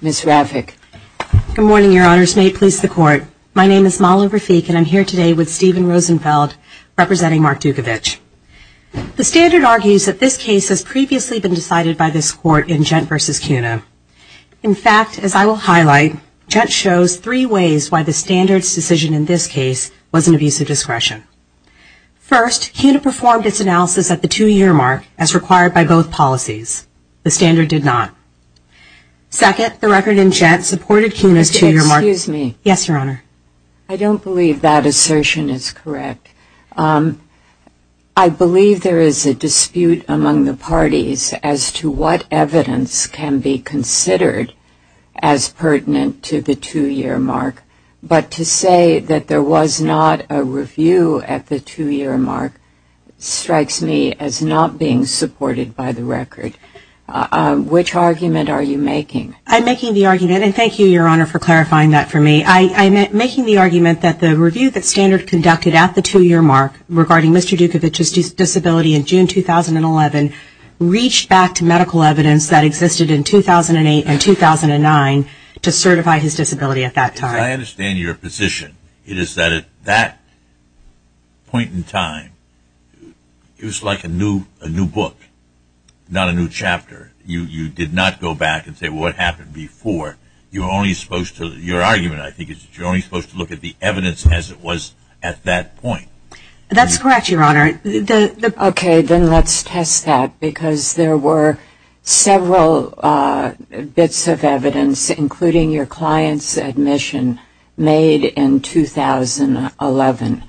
Good morning, Your Honors. May it please the Court, my name is Mala Rafiq and I'm here today with Stephen Rosenfeld representing Mark Dutkewych. The Standard argues that this case has previously been decided by this Court in Gent v. CUNA. In fact, as I will highlight, shows three ways why the Standard's decision in this case was an abuse of discretion. First, CUNA performed its analysis at the two-year mark as required by both policies. The Standard did not. Second, the record in Gent supported CUNA's two-year mark. Excuse me. Yes, Your Honor. I don't believe that assertion is correct. I believe there is a dispute among the parties as to what evidence can be considered as pertinent to the two-year mark. But to say that there was not a review at the two-year mark strikes me as not being supported by the record. Which argument are you making? I'm making the argument, and thank you, Your Honor, for clarifying that for me. I'm making the argument that the review that Standard conducted at the two-year mark regarding Mr. CUNA in 2011 reached back to medical evidence that existed in 2008 and 2009 to certify his disability at that time. I understand your position. It is that at that point in time, it was like a new book, not a new chapter. You did not go back and say, well, what happened before? Your argument, I think, is that you're only supposed to look at the evidence as it was at that point. That's correct, Your Honor. Okay. Then let's test that, because there were several bits of evidence, including your client's admission, made in 2011.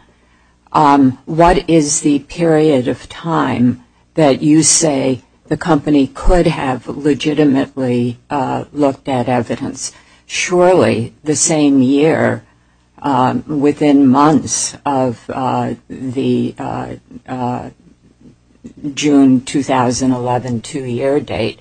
What is the period of time that you say the company could have the June 2011 two-year date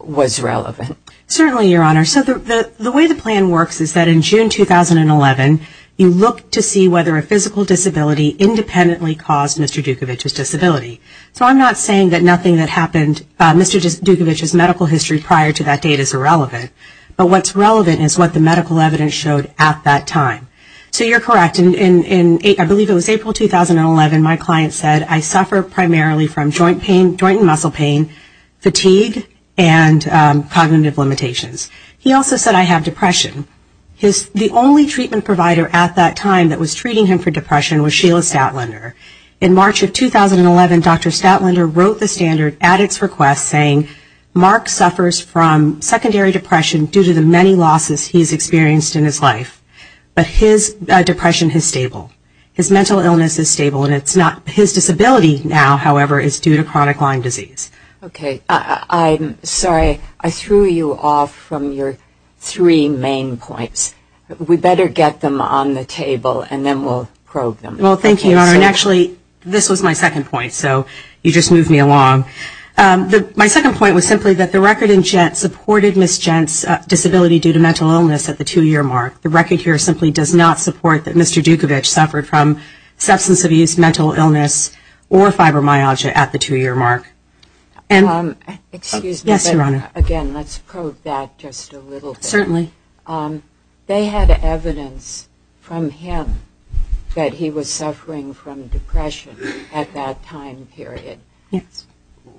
was relevant? Certainly, Your Honor. So the way the plan works is that in June 2011, you look to see whether a physical disability independently caused Mr. Dukovic's disability. So I'm not saying that nothing that happened, Mr. Dukovic's medical history prior to that date is irrelevant. But what's relevant is what the medical evidence showed at that time. So you're correct. I believe it was April 2011, my client said, I suffer primarily from joint pain, joint and muscle pain, fatigue, and cognitive limitations. He also said I have depression. The only treatment provider at that time that was treating him for depression was Sheila Statlander. In March of 2011, Dr. Statlander wrote the standard at its request, saying Mark suffers from secondary depression due to the many losses he's experienced in his life. But his depression is stable. His mental illness is stable. And it's not his disability now, however, is due to chronic Lyme disease. Okay. I'm sorry. I threw you off from your three main points. We better get them on the table, and then we'll probe them. Well, thank you, Your Honor. And actually, this was my second point. So you just moved me along. My second point was simply that the record in GENT supported Ms. GENT's disability due to chronic Lyme disease, and that Dr. Dukovic suffered from substance abuse, mental illness, or fibromyalgia at the two-year mark. Excuse me. Yes, Your Honor. Again, let's probe that just a little bit. Certainly. They had evidence from him that he was suffering from depression at that time period. Yes.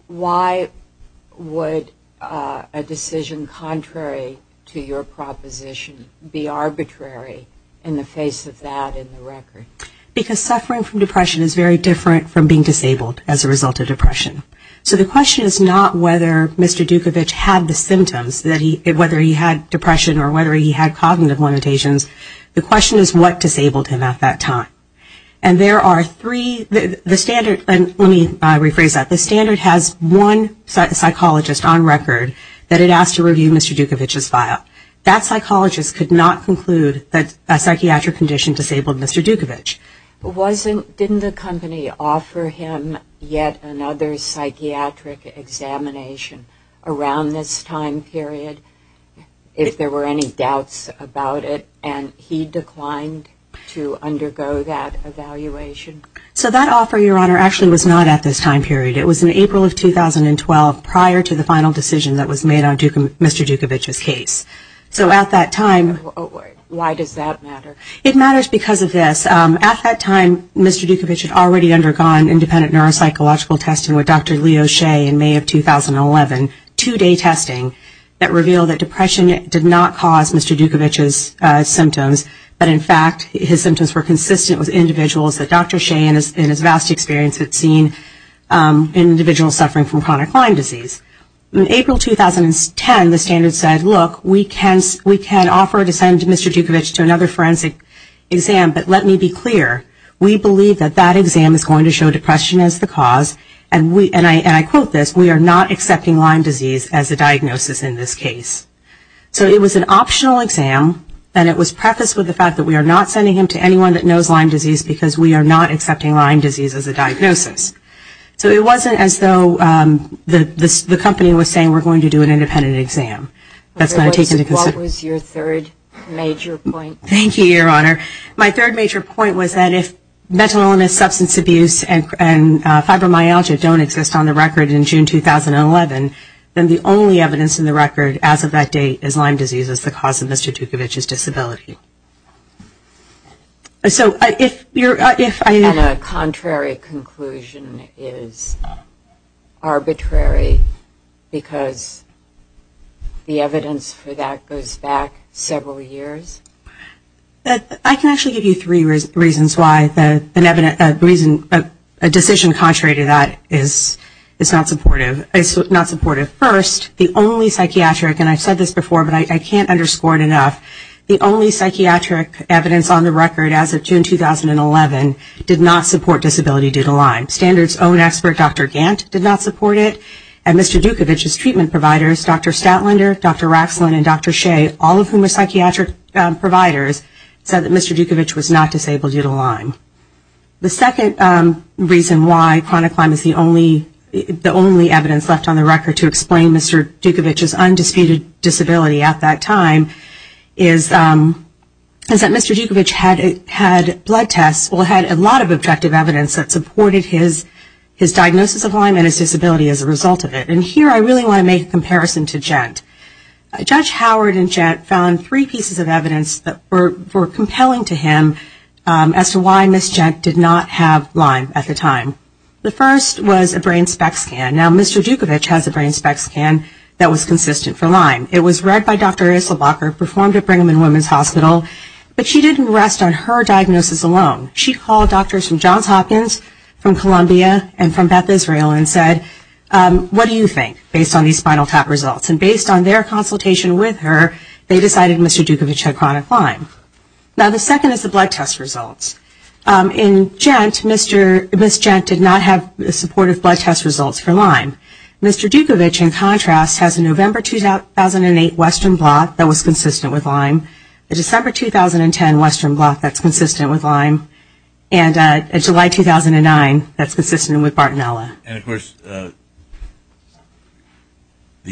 Why would a decision contrary to your proposition be arbitrary in the face of that in the record? Because suffering from depression is very different from being disabled as a result of depression. So the question is not whether Mr. Dukovic had the symptoms, whether he had depression or whether he had cognitive limitations. The question is what disabled him at that time. And there are three, the standard, and let me rephrase that, the standard has one psychologist on record that it asked to review Mr. Dukovic's file. That psychologist could not conclude that a psychiatric condition disabled Mr. Dukovic. Didn't the company offer him yet another psychiatric examination around this time period if there were any doubts about it and he declined to undergo that evaluation? So that offer, Your Honor, actually was not at this time period. It was in April of 2012 prior to the final decision that was made on Mr. Dukovic's case. So at that time... Why does that matter? It matters because of this. At that time, Mr. Dukovic had already undergone independent neuropsychological testing with Dr. Leo Hsieh in May of 2011, two-day testing that revealed that depression did not cause Mr. Dukovic's symptoms, but in fact his symptoms were consistent with individuals that Dr. Hsieh in his vast experience had seen in individuals suffering from chronic Lyme disease. In April 2010, the standard said, look, we can offer to send Mr. Dukovic to another forensic exam, but let me be clear, we believe that that exam is going to show depression as the cause, and I quote this, we are not accepting Lyme disease as a diagnosis in this case. So it was an optional exam, and it was prefaced with the fact that we are not sending him to anyone that knows Lyme disease because we are not accepting Lyme disease as a diagnosis. So it wasn't as though the company was saying we're going to do an independent exam. What was your third major point? Thank you, Your Honor. My third major point was that if mental illness, substance abuse, and fibromyalgia don't exist on the record in June 2011, then the only evidence in the record as of that date is Lyme disease as the cause of Mr. Dukovic's disability. So if you're, if I, And a contrary conclusion is arbitrary because the evidence for that goes back several years? I can actually give you three reasons why a decision contrary to that is not supportive. First, the only psychiatric, and I've said this before, but I can't underscore it enough, the only psychiatric evidence on the record as of June 2011 did not support disability due to Lyme. Standards' own expert, Dr. Gant, did not support it, and Mr. Dukovic's treatment providers, Dr. Stoutlander, Dr. Raxlin, and Dr. Shea, all of whom are psychiatric providers, said that Mr. Dukovic was not disabled due to Lyme. The second reason why chronic Lyme is the only evidence left on the record to explain Mr. Dukovic's undisputed disability at that time is that Mr. Dukovic had blood tests, well, had a lot of objective evidence that supported his diagnosis of Lyme and his disability as a result of it. And here I really want to make a comparison to Gent. Judge Howard and Gent found three pieces of evidence that were compelling to him as to why Ms. Gent did not have Lyme at the time. The first was a brain spec scan. Now, Mr. Dukovic has a brain spec scan that was consistent for Lyme. It was read by Dr. Isselbacher, performed at Brigham and Women's Hospital, but she didn't rest on her diagnosis alone. She called doctors from Johns Hopkins, from Columbia, and from Beth Israel and said, what do you think based on these spinal tap results? And based on their consultation with her, they decided Mr. Dukovic had chronic Lyme. Now, the second is the blood test results. In Gent, Ms. Gent did not have supportive blood test results for Lyme. Mr. Dukovic, in contrast, has a November 2008 Western Blot that was consistent with Lyme, a December 2010 Western Blot that's consistent with Lyme, and a July 2009 that's consistent with Bartonella. And of course, the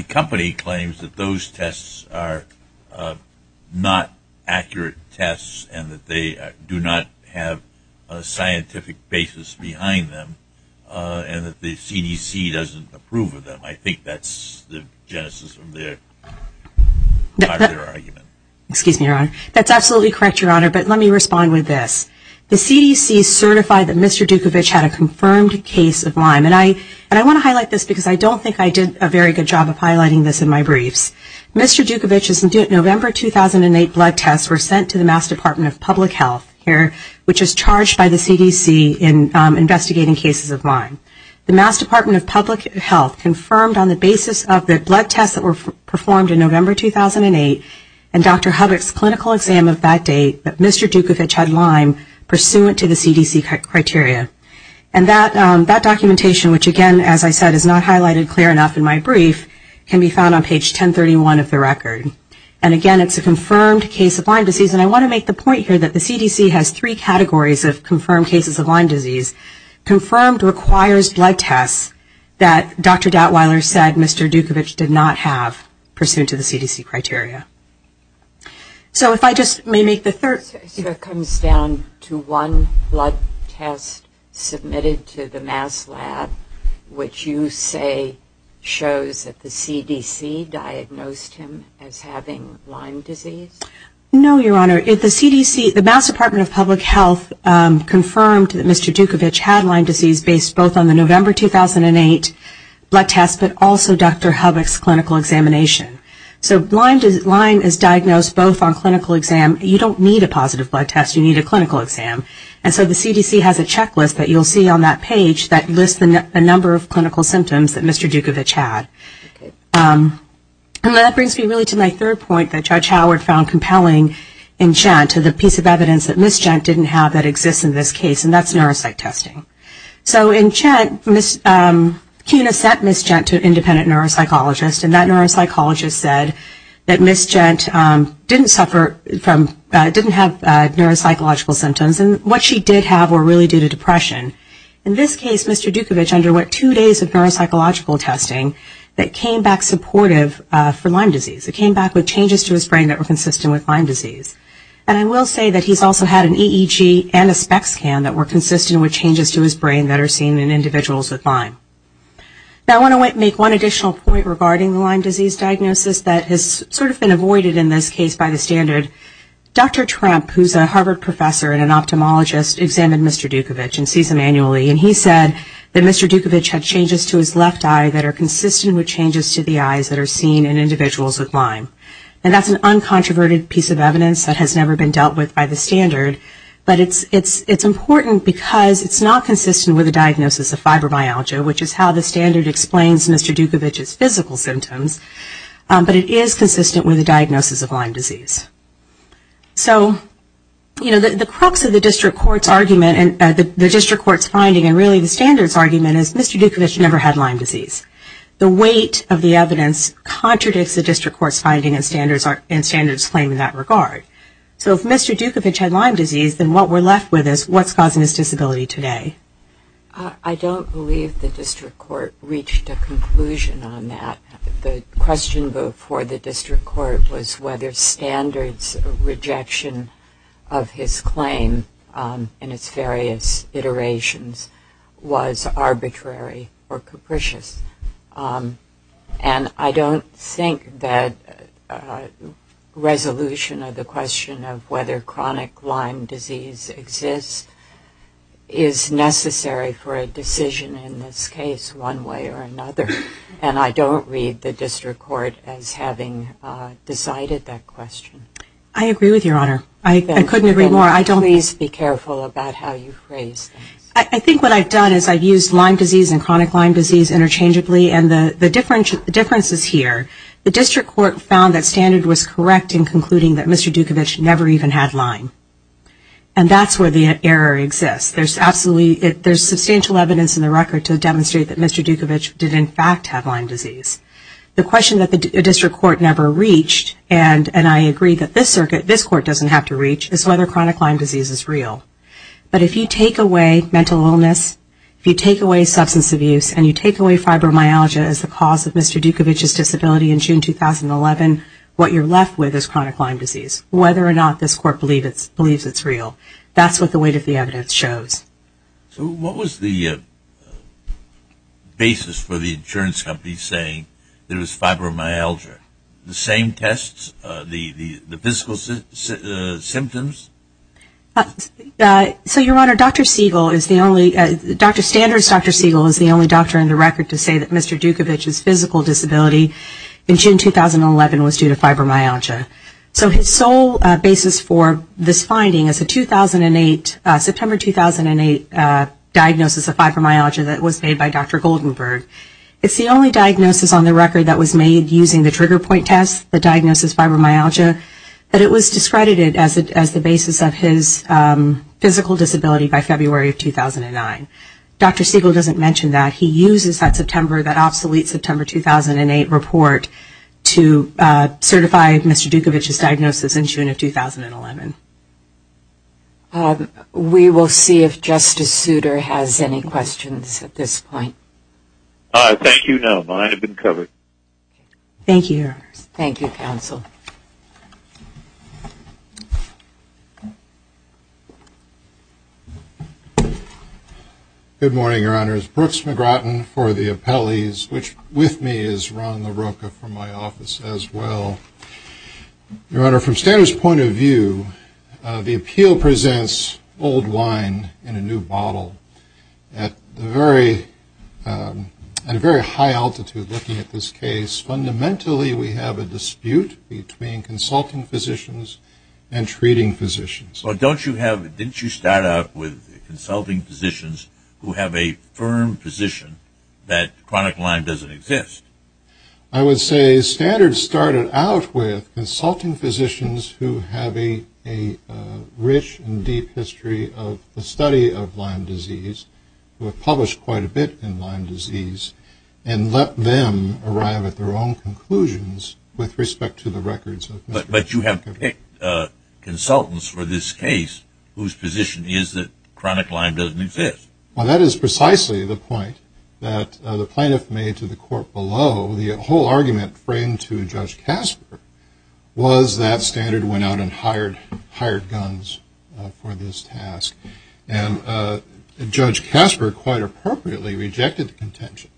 company claims that those tests are not accurate tests and that they do not have a scientific basis behind them and that the CDC doesn't approve of them. I think that's the genesis of their argument. Excuse me, Your Honor. That's absolutely correct, Your Honor, but let me respond with this. The CDC certified that Mr. Dukovic had a confirmed case of Lyme. And I want to highlight this because I don't think I did a very good job of highlighting this in my briefs. Mr. Dukovic's November 2008 blood tests were sent to the Mass. Department of Public Health here, which is charged by the CDC in investigating cases of Lyme. The Mass. Department of Public Health confirmed on the basis of the blood tests that were performed in November 2008 and Dr. Hubbock's clinical exam of that date that Mr. Dukovic had Lyme pursuant to the CDC criteria. And that documentation, which again, as I said, is not highlighted clear enough in my brief, can be found on page 1031 of the record. And again, it's a confirmed case of Lyme disease. And I want to make the point here that the CDC has three categories of confirmed cases of Lyme disease. Confirmed requires blood tests that Dr. Dautweiler said Mr. Dukovic did not have pursuant to the CDC criteria. So if I just may make the third... So it comes down to one blood test submitted to the Mass. Lab, which you say shows that the CDC diagnosed him as having Lyme disease? No, Your Honor. The Mass. Department of Public Health confirmed that Mr. Dukovic had Lyme disease based both on the November 2008 blood test, but also Dr. Hubbock's clinical examination. So Lyme is diagnosed both on clinical exam. You don't need a positive blood test. You need a clinical exam. And so the CDC has a checklist that you'll see on that page that lists the number of clinical symptoms that Mr. Dukovic had. And that brings me really to my third point that Judge Howard found compelling in GENT, the piece of evidence that Ms. GENT didn't have that exists in this case, and that's neuropsych testing. So in GENT, CUNA sent Ms. GENT to an independent neuropsychologist, and that neuropsychologist said that Ms. GENT didn't suffer from... didn't have neuropsychological symptoms. And what she did have were really due to depression. In this case, Mr. Dukovic underwent two days of neuropsychological testing that came back supportive for Lyme disease. It came back with changes to his brain that were consistent with Lyme disease. And I will say that he's also had an EEG and a spec scan that were consistent with changes to his brain that are seen in individuals with Lyme. Now, I want to make one additional point regarding the Lyme disease diagnosis that has sort of been avoided in this case by the standard. Dr. Tramp, who's a Harvard professor and an ophthalmologist, examined Mr. Dukovic and sees him annually, and he said that Mr. Dukovic had changes to his left eye that are consistent with changes to the eyes that are seen in individuals with Lyme. And that's an uncontroverted piece of evidence that has never been dealt with by the standard, but it's important because it's not consistent with the diagnosis of fibromyalgia, which is how the standard explains Mr. Dukovic's physical symptoms, but it is consistent with the diagnosis of Lyme disease. So, you know, the crux of the district court's argument and the district court's finding, and really the standard's argument, is Mr. Dukovic never had Lyme disease. The weight of the evidence contradicts the district court's finding and standards claim in that regard. So if Mr. Dukovic had Lyme disease, then what we're left with is, what's causing his disability today? I don't believe the district court reached a conclusion on that. The question before the district court was whether standard's rejection of his claim in its various iterations was arbitrary or capricious. And I don't think that resolution of the question of whether chronic Lyme disease exists is necessary for a decision in this case one way or another, and I don't read the district court as having decided that question. I agree with your honor. I couldn't agree more. Please be careful about how you phrase things. I think what I've done is I've used Lyme disease and chronic Lyme disease interchangeably, and the difference is here. The district court found that standard was correct in concluding that Mr. Dukovic never even had Lyme. And that's where the error exists. There's substantial evidence in the record to demonstrate that Mr. Dukovic did in fact have Lyme disease. The question that the district court never reached, and I agree that this court doesn't have to reach, is whether chronic Lyme disease is real. But if you take away mental illness, if you take away substance abuse, and you take away fibromyalgia as the cause of Mr. Dukovic's disability in June 2011, what you're left with is chronic Lyme disease, whether or not this court believes it's real. That's what the weight of the evidence shows. So what was the basis for the insurance company saying there was fibromyalgia? The same tests? The physical symptoms? So, Your Honor, Dr. Standard's Dr. Siegel is the only doctor in the record to say that Mr. Dukovic's physical disability in June 2011 was due to fibromyalgia. So his sole basis for this finding is a September 2008 diagnosis of fibromyalgia that was made by Dr. Goldenberg. It's the only diagnosis on the record that was made using the trigger point test, the diagnosis fibromyalgia. But it was discredited as the basis of his physical disability by February of 2009. Dr. Siegel doesn't mention that. He uses that September, that obsolete September 2008 report to certify Mr. Dukovic's diagnosis in June of 2011. We will see if Justice Souter has any questions at this point. Thank you, Your Honor. Mine have been covered. Thank you, Your Honor. Thank you, counsel. Good morning, Your Honors. Brooks McGratton for the appellees, which with me is Ron LaRocca from my office as well. Your Honor, from Standard's point of view, the appeal presents old wine in a new bottle. At a very high altitude looking at this case, fundamentally we have a dispute between consulting physicians and treating physicians. But don't you have, didn't you start out with consulting physicians who have a firm position that chronic Lyme doesn't exist? I would say Standard started out with consulting physicians who have a rich and deep history of the study of Lyme disease, who have published quite a bit in Lyme disease, and let them arrive at their own conclusions with respect to the records of Mr. Dukovic. But you have picked consultants for this case whose position is that chronic Lyme doesn't exist. Well, that is precisely the point that the plaintiff made to the court below. The whole argument framed to Judge Casper was that Standard went out and hired guns for this task. And Judge Casper quite appropriately rejected the contention.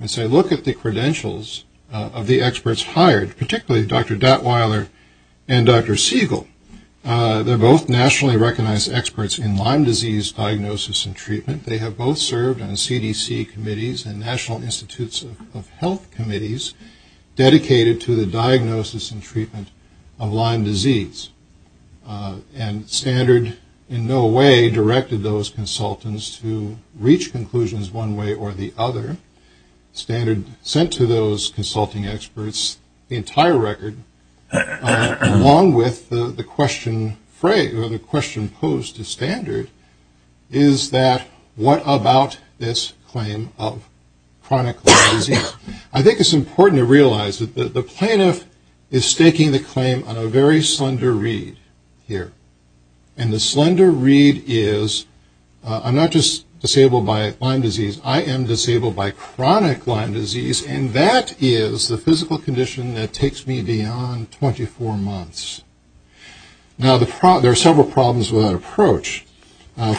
And so look at the credentials of the experts hired, particularly Dr. Datweiler and Dr. Siegel. They're both nationally recognized experts in Lyme disease diagnosis and treatment. They have both served on CDC committees and National Institutes of Health committees dedicated to the diagnosis and treatment of Lyme disease. And Standard in no way directed those consultants to reach conclusions one way or the other. Standard sent to those consulting experts the entire record, along with the question posed to Standard, is that what about this claim of chronic Lyme disease? I think it's important to realize that the plaintiff is staking the claim on a very slender read here. And the slender read is, I'm not just disabled by Lyme disease, I am disabled by chronic Lyme disease, and that is the physical condition that takes me beyond 24 months. Now, there are several problems with that approach.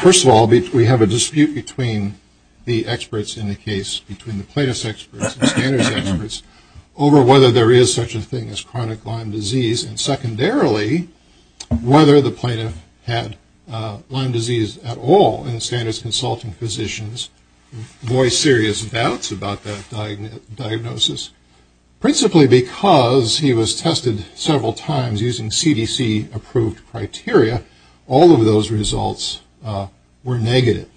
First of all, we have a dispute between the experts in the case, between the plaintiff's experts and Standard's experts, over whether there is such a thing as chronic Lyme disease. And secondarily, whether the plaintiff had Lyme disease at all. And Standard's consulting physicians voiced serious doubts about that diagnosis, principally because he was tested several times using CDC-approved criteria. All of those results were negative.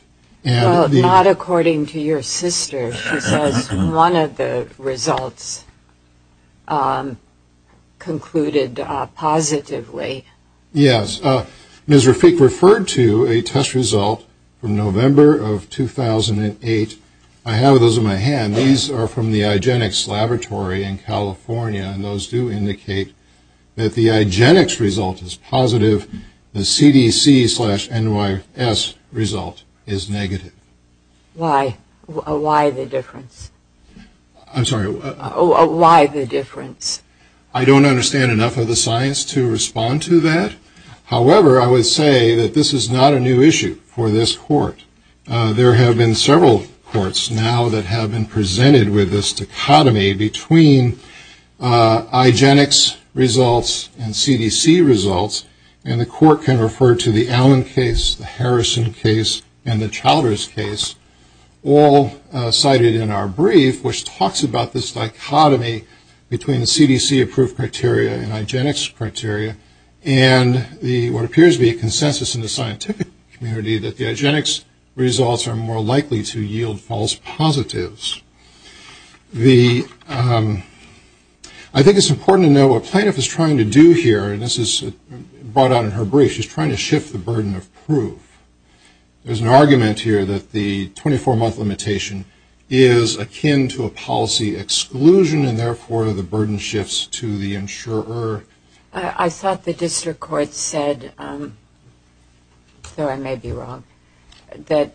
Well, not according to your sister. She says one of the results concluded positively. Yes. Ms. Rafik referred to a test result from November of 2008. I have those in my hand. These are from the IGENIX laboratory in California, and those do indicate that the IGENIX result is positive, the CDC-NYS result is negative. Why? Why the difference? I'm sorry. Why the difference? I don't understand enough of the science to respond to that. However, I would say that this is not a new issue for this court. There have been several courts now that have been presented with this dichotomy between IGENIX results and CDC results, and the court can refer to the Allen case, the Harrison case, and the Childers case, all cited in our brief, which talks about this dichotomy between the CDC-approved criteria and IGENIX criteria, and what appears to be a consensus in the scientific community that the IGENIX results are more likely to yield false positives. I think it's important to know what plaintiff is trying to do here, and this is brought out in her brief, she's trying to shift the burden of proof. There's an argument here that the 24-month limitation is akin to a policy exclusion, and therefore the burden shifts to the insurer. I thought the district court said, though I may be wrong, that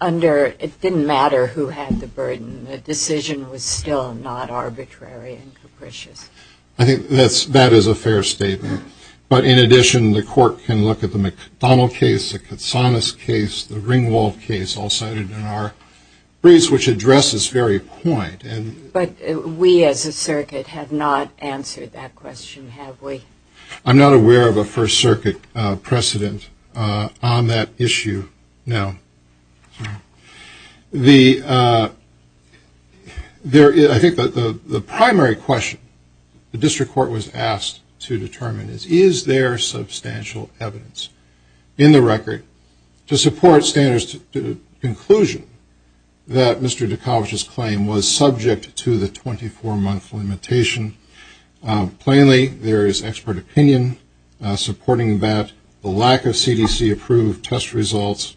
under, it didn't matter who had the burden, the decision was still not arbitrary and capricious. I think that is a fair statement, but in addition, the court can look at the McDonnell case, the Katsanas case, the Ringwald case, all cited in our briefs, which addresses this very point. But we as a circuit have not answered that question, have we? I'm not aware of a First Circuit precedent on that issue, no. I think the primary question the district court was asked to determine is, is there substantial evidence in the record to support standards to the conclusion that Mr. Dikovic's claim was subject to the 24-month limitation? Plainly, there is expert opinion supporting that the lack of CDC-approved test results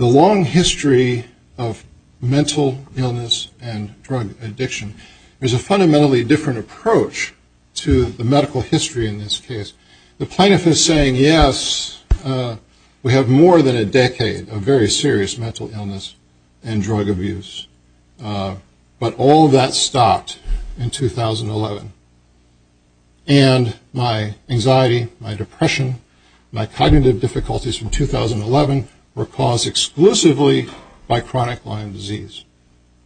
the long history of mental illness and drug addiction, there's a fundamentally different approach to the medical history in this case. The plaintiff is saying, yes, we have more than a decade of very serious mental illness and drug abuse, but all that stopped in 2011. And my anxiety, my depression, my cognitive difficulties from 2011 were caused exclusively by chronic Lyme disease.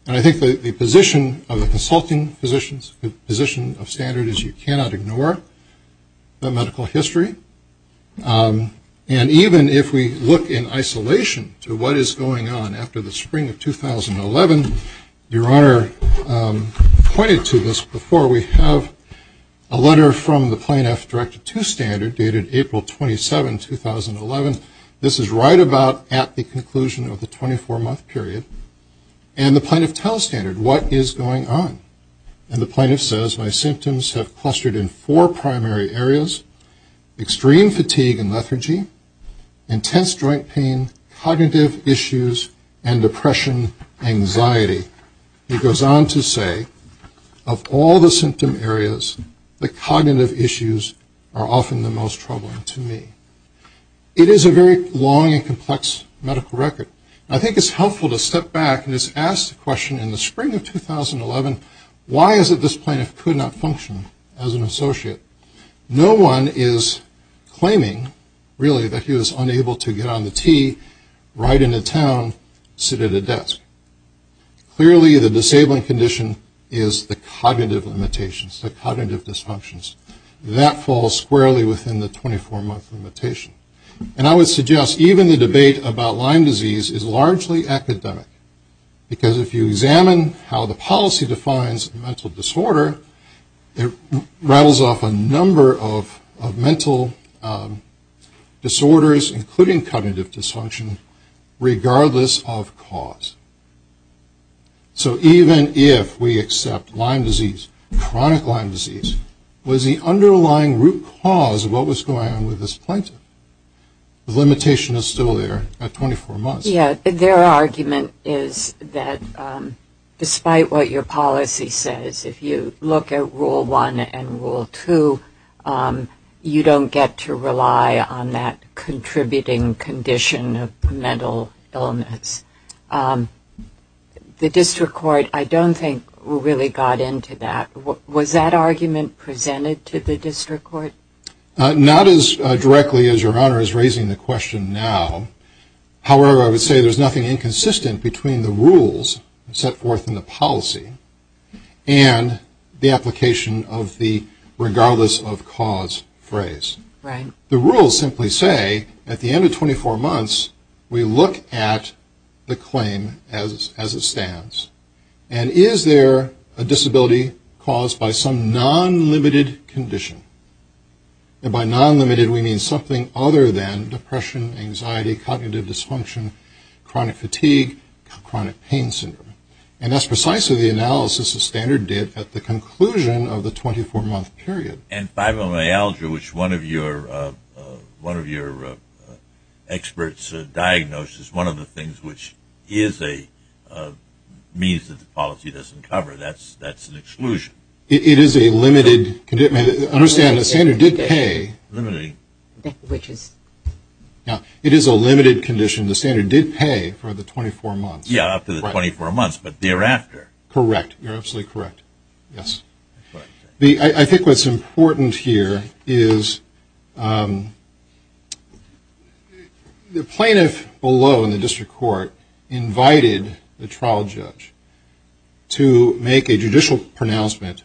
And I think the position of the consulting physicians, the position of standards is you cannot ignore the medical history. And even if we look in isolation to what is going on after the spring of 2011, Your Honor pointed to this before. We have a letter from the plaintiff directed to standard dated April 27, 2011. This is right about at the conclusion of the 24-month period. And the plaintiff tells standard, what is going on? And the plaintiff says, my symptoms have clustered in four primary areas, extreme fatigue and lethargy, intense joint pain, cognitive issues, and depression, anxiety. He goes on to say, of all the symptom areas, the cognitive issues are often the most troubling to me. It is a very long and complex medical record. I think it's helpful to step back and just ask the question in the spring of 2011, why is it this plaintiff could not function as an associate? No one is claiming, really, that he was unable to get on the T, ride into town, sit at a desk. Clearly, the disabling condition is the cognitive limitations, the cognitive dysfunctions. That falls squarely within the 24-month limitation. And I would suggest, even the debate about Lyme disease is largely academic. Because if you examine how the policy defines mental disorder, it rattles off a number of mental disorders, including cognitive dysfunction, regardless of cause. So even if we accept Lyme disease, chronic Lyme disease, was the underlying root cause of what was going on with this plaintiff? The limitation is still there at 24 months. Yeah, their argument is that despite what your policy says, if you look at Rule 1 and Rule 2, you don't get to rely on that contributing condition of mental illness. The district court, I don't think, really got into that. Was that argument presented to the district court? Not as directly as Your Honor is raising the question now. However, I would say there's nothing inconsistent between the rules set forth in the policy and the application of the regardless of cause phrase. Right. The rules simply say, at the end of 24 months, we look at the claim as it stands. And is there a disability caused by some non-limited condition? And by non-limited, we mean something other than depression, anxiety, cognitive dysfunction, chronic fatigue, chronic pain syndrome. And that's precisely the analysis the standard did at the conclusion of the 24-month period. And fibromyalgia, which one of your experts diagnosed, is one of the things which is a means that the policy doesn't cover. That's an exclusion. It is a limited condition. Understand, the standard did pay for the 24 months. Yeah, up to the 24 months, but thereafter. Correct. You're absolutely correct. Yes. I think what's important here is the plaintiff below in the district court invited the trial judge to make a judicial pronouncement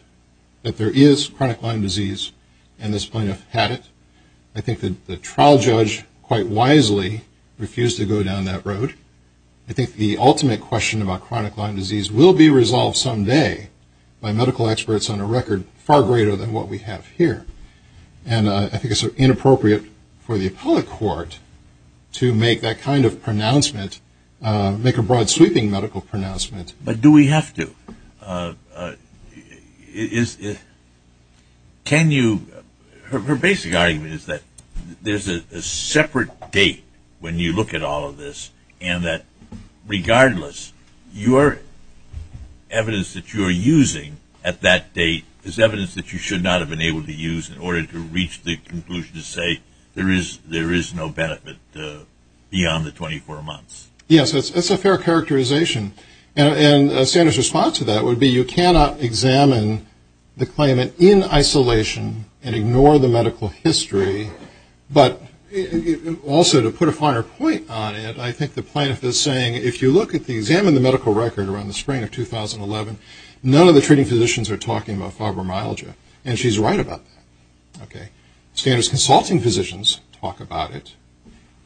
that there is chronic Lyme disease and this plaintiff had it. I think that the trial judge quite wisely refused to go down that road. I think the ultimate question about chronic Lyme disease will be resolved someday by medical experts on a record far greater than what we have here. And I think it's inappropriate for the appellate court to make that kind of pronouncement, make a broad sweeping medical pronouncement. But do we have to? Can you, her basic argument is that there's a separate date when you look at all of this and that regardless, your evidence that you're using at that date is evidence that you should not have been able to use in order to reach the conclusion to say there is no benefit beyond the 24 months. Yes, that's a fair characterization. And a standard response to that would be you cannot examine the claimant in isolation and ignore the medical history, but also to put a finer point on it, I think the plaintiff is saying if you look at the, examine the medical record around the spring of 2011, none of the treating physicians are talking about fibromyalgia. And she's right about that. Okay. Standards consulting physicians talk about it.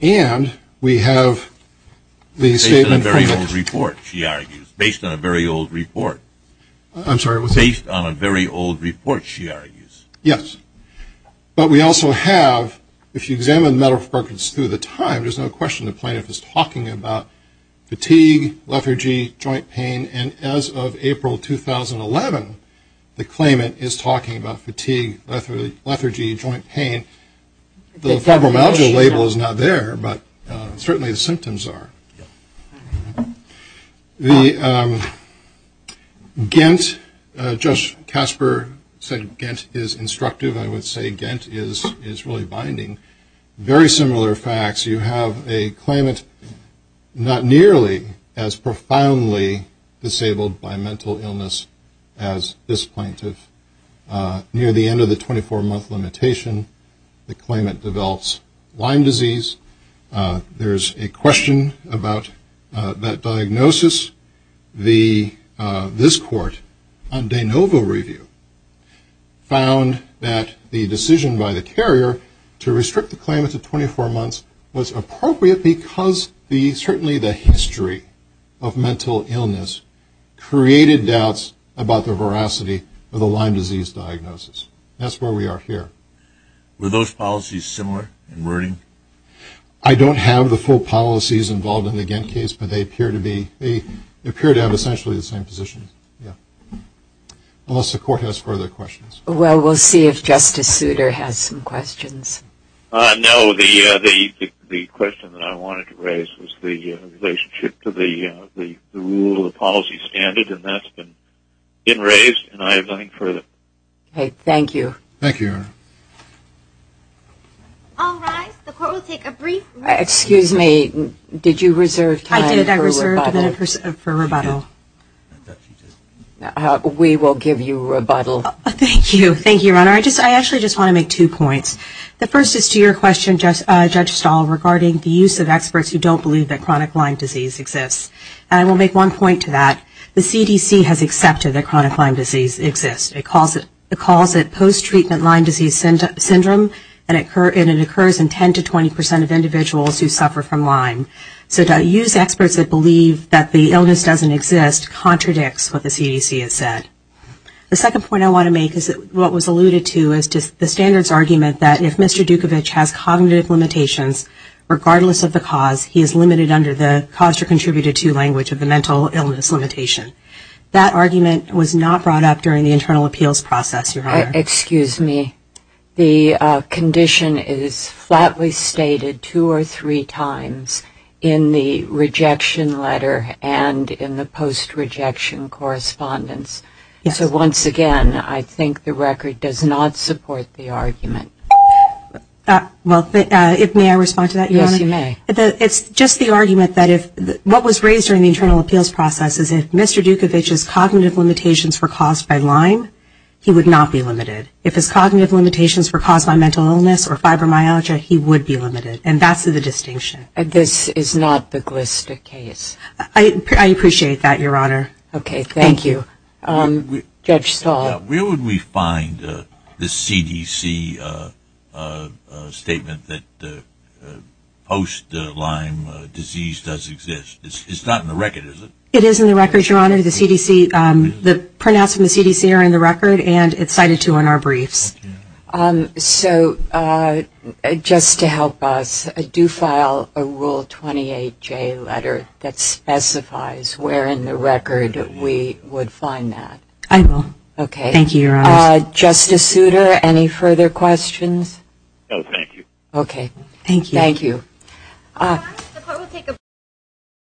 And we have the statement. Based on a very old report, she argues. Based on a very old report. I'm sorry, what's that? Based on a very old report, she argues. Yes. But we also have, if you examine medical records through the time, there's no question the plaintiff is talking about fatigue, lethargy, joint pain. And as of April 2011, the claimant is talking about fatigue, lethargy, joint pain. The fibromyalgia label is not there, but certainly the symptoms are. The GENT, Judge Casper said GENT is instructive. I would say GENT is really binding. Very similar facts. You have a claimant not nearly as profoundly disabled by mental illness as this plaintiff. Near the end of the 24-month limitation, the claimant develops Lyme disease. There's a question about that diagnosis. The, this court, on de novo review, found that the decision by the carrier to restrict the claimant to 24 months was appropriate because the, certainly the history of mental illness created doubts about the veracity of the Lyme disease diagnosis. That's where we are here. Were those policies similar in wording? I don't have the full policies involved in the GENT case, but they appear to be, they appear to have essentially the same position. Yeah. Unless the court has further questions. Well, we'll see if Justice Souter has some questions. No, the question that I wanted to raise was the relationship to the rule of the policy standard, and that's been raised, and I have nothing further. Okay, thank you. Thank you. All rise. The court will take a brief recess. Excuse me. Did you reserve time for rebuttal? I did. I reserved a minute for rebuttal. We will give you rebuttal. Thank you. Thank you, Your Honor. I actually just want to make two points. The first is to your question, Judge Stahl, regarding the use of experts who don't believe that chronic Lyme disease exists. And I will make one point to that. The CDC has accepted that chronic Lyme disease exists. It calls it post-treatment Lyme disease syndrome, and it occurs in 10 to 20 percent of individuals who suffer from Lyme. So to use experts that believe that the illness doesn't exist contradicts what the CDC has said. The second point I want to make is what was alluded to is the standards argument that if Mr. Dukovic has cognitive limitations, regardless of the cause, he is limited under the cause or contributed to language of the mental illness limitation. That argument was not brought up during the internal appeals process, Your Honor. Excuse me. The condition is flatly stated two or three times in the rejection letter and in the post-rejection correspondence. So once again, I think the record does not support the argument. Well, may I respond to that, Your Honor? Yes, you may. It's just the argument that if what was raised during the internal appeals process is if Mr. Dukovic's cognitive limitations were caused by Lyme, he would not be limited. If his cognitive limitations were caused by mental illness or fibromyalgia, he would be limited. And that's the distinction. This is not the Glista case. I appreciate that, Your Honor. Okay, thank you. Judge Stahl. Where would we find the CDC statement that post-Lyme disease does exist? It's not in the record, is it? It is in the record, Your Honor. The printouts from the CDC are in the record, and it's cited, too, in our briefs. So just to help us, do file a Rule 28J letter that specifies where in the record we would find that. I will. Okay. Thank you, Your Honor. Justice Souter, any further questions? No, thank you. Okay. Thank you. Thank you.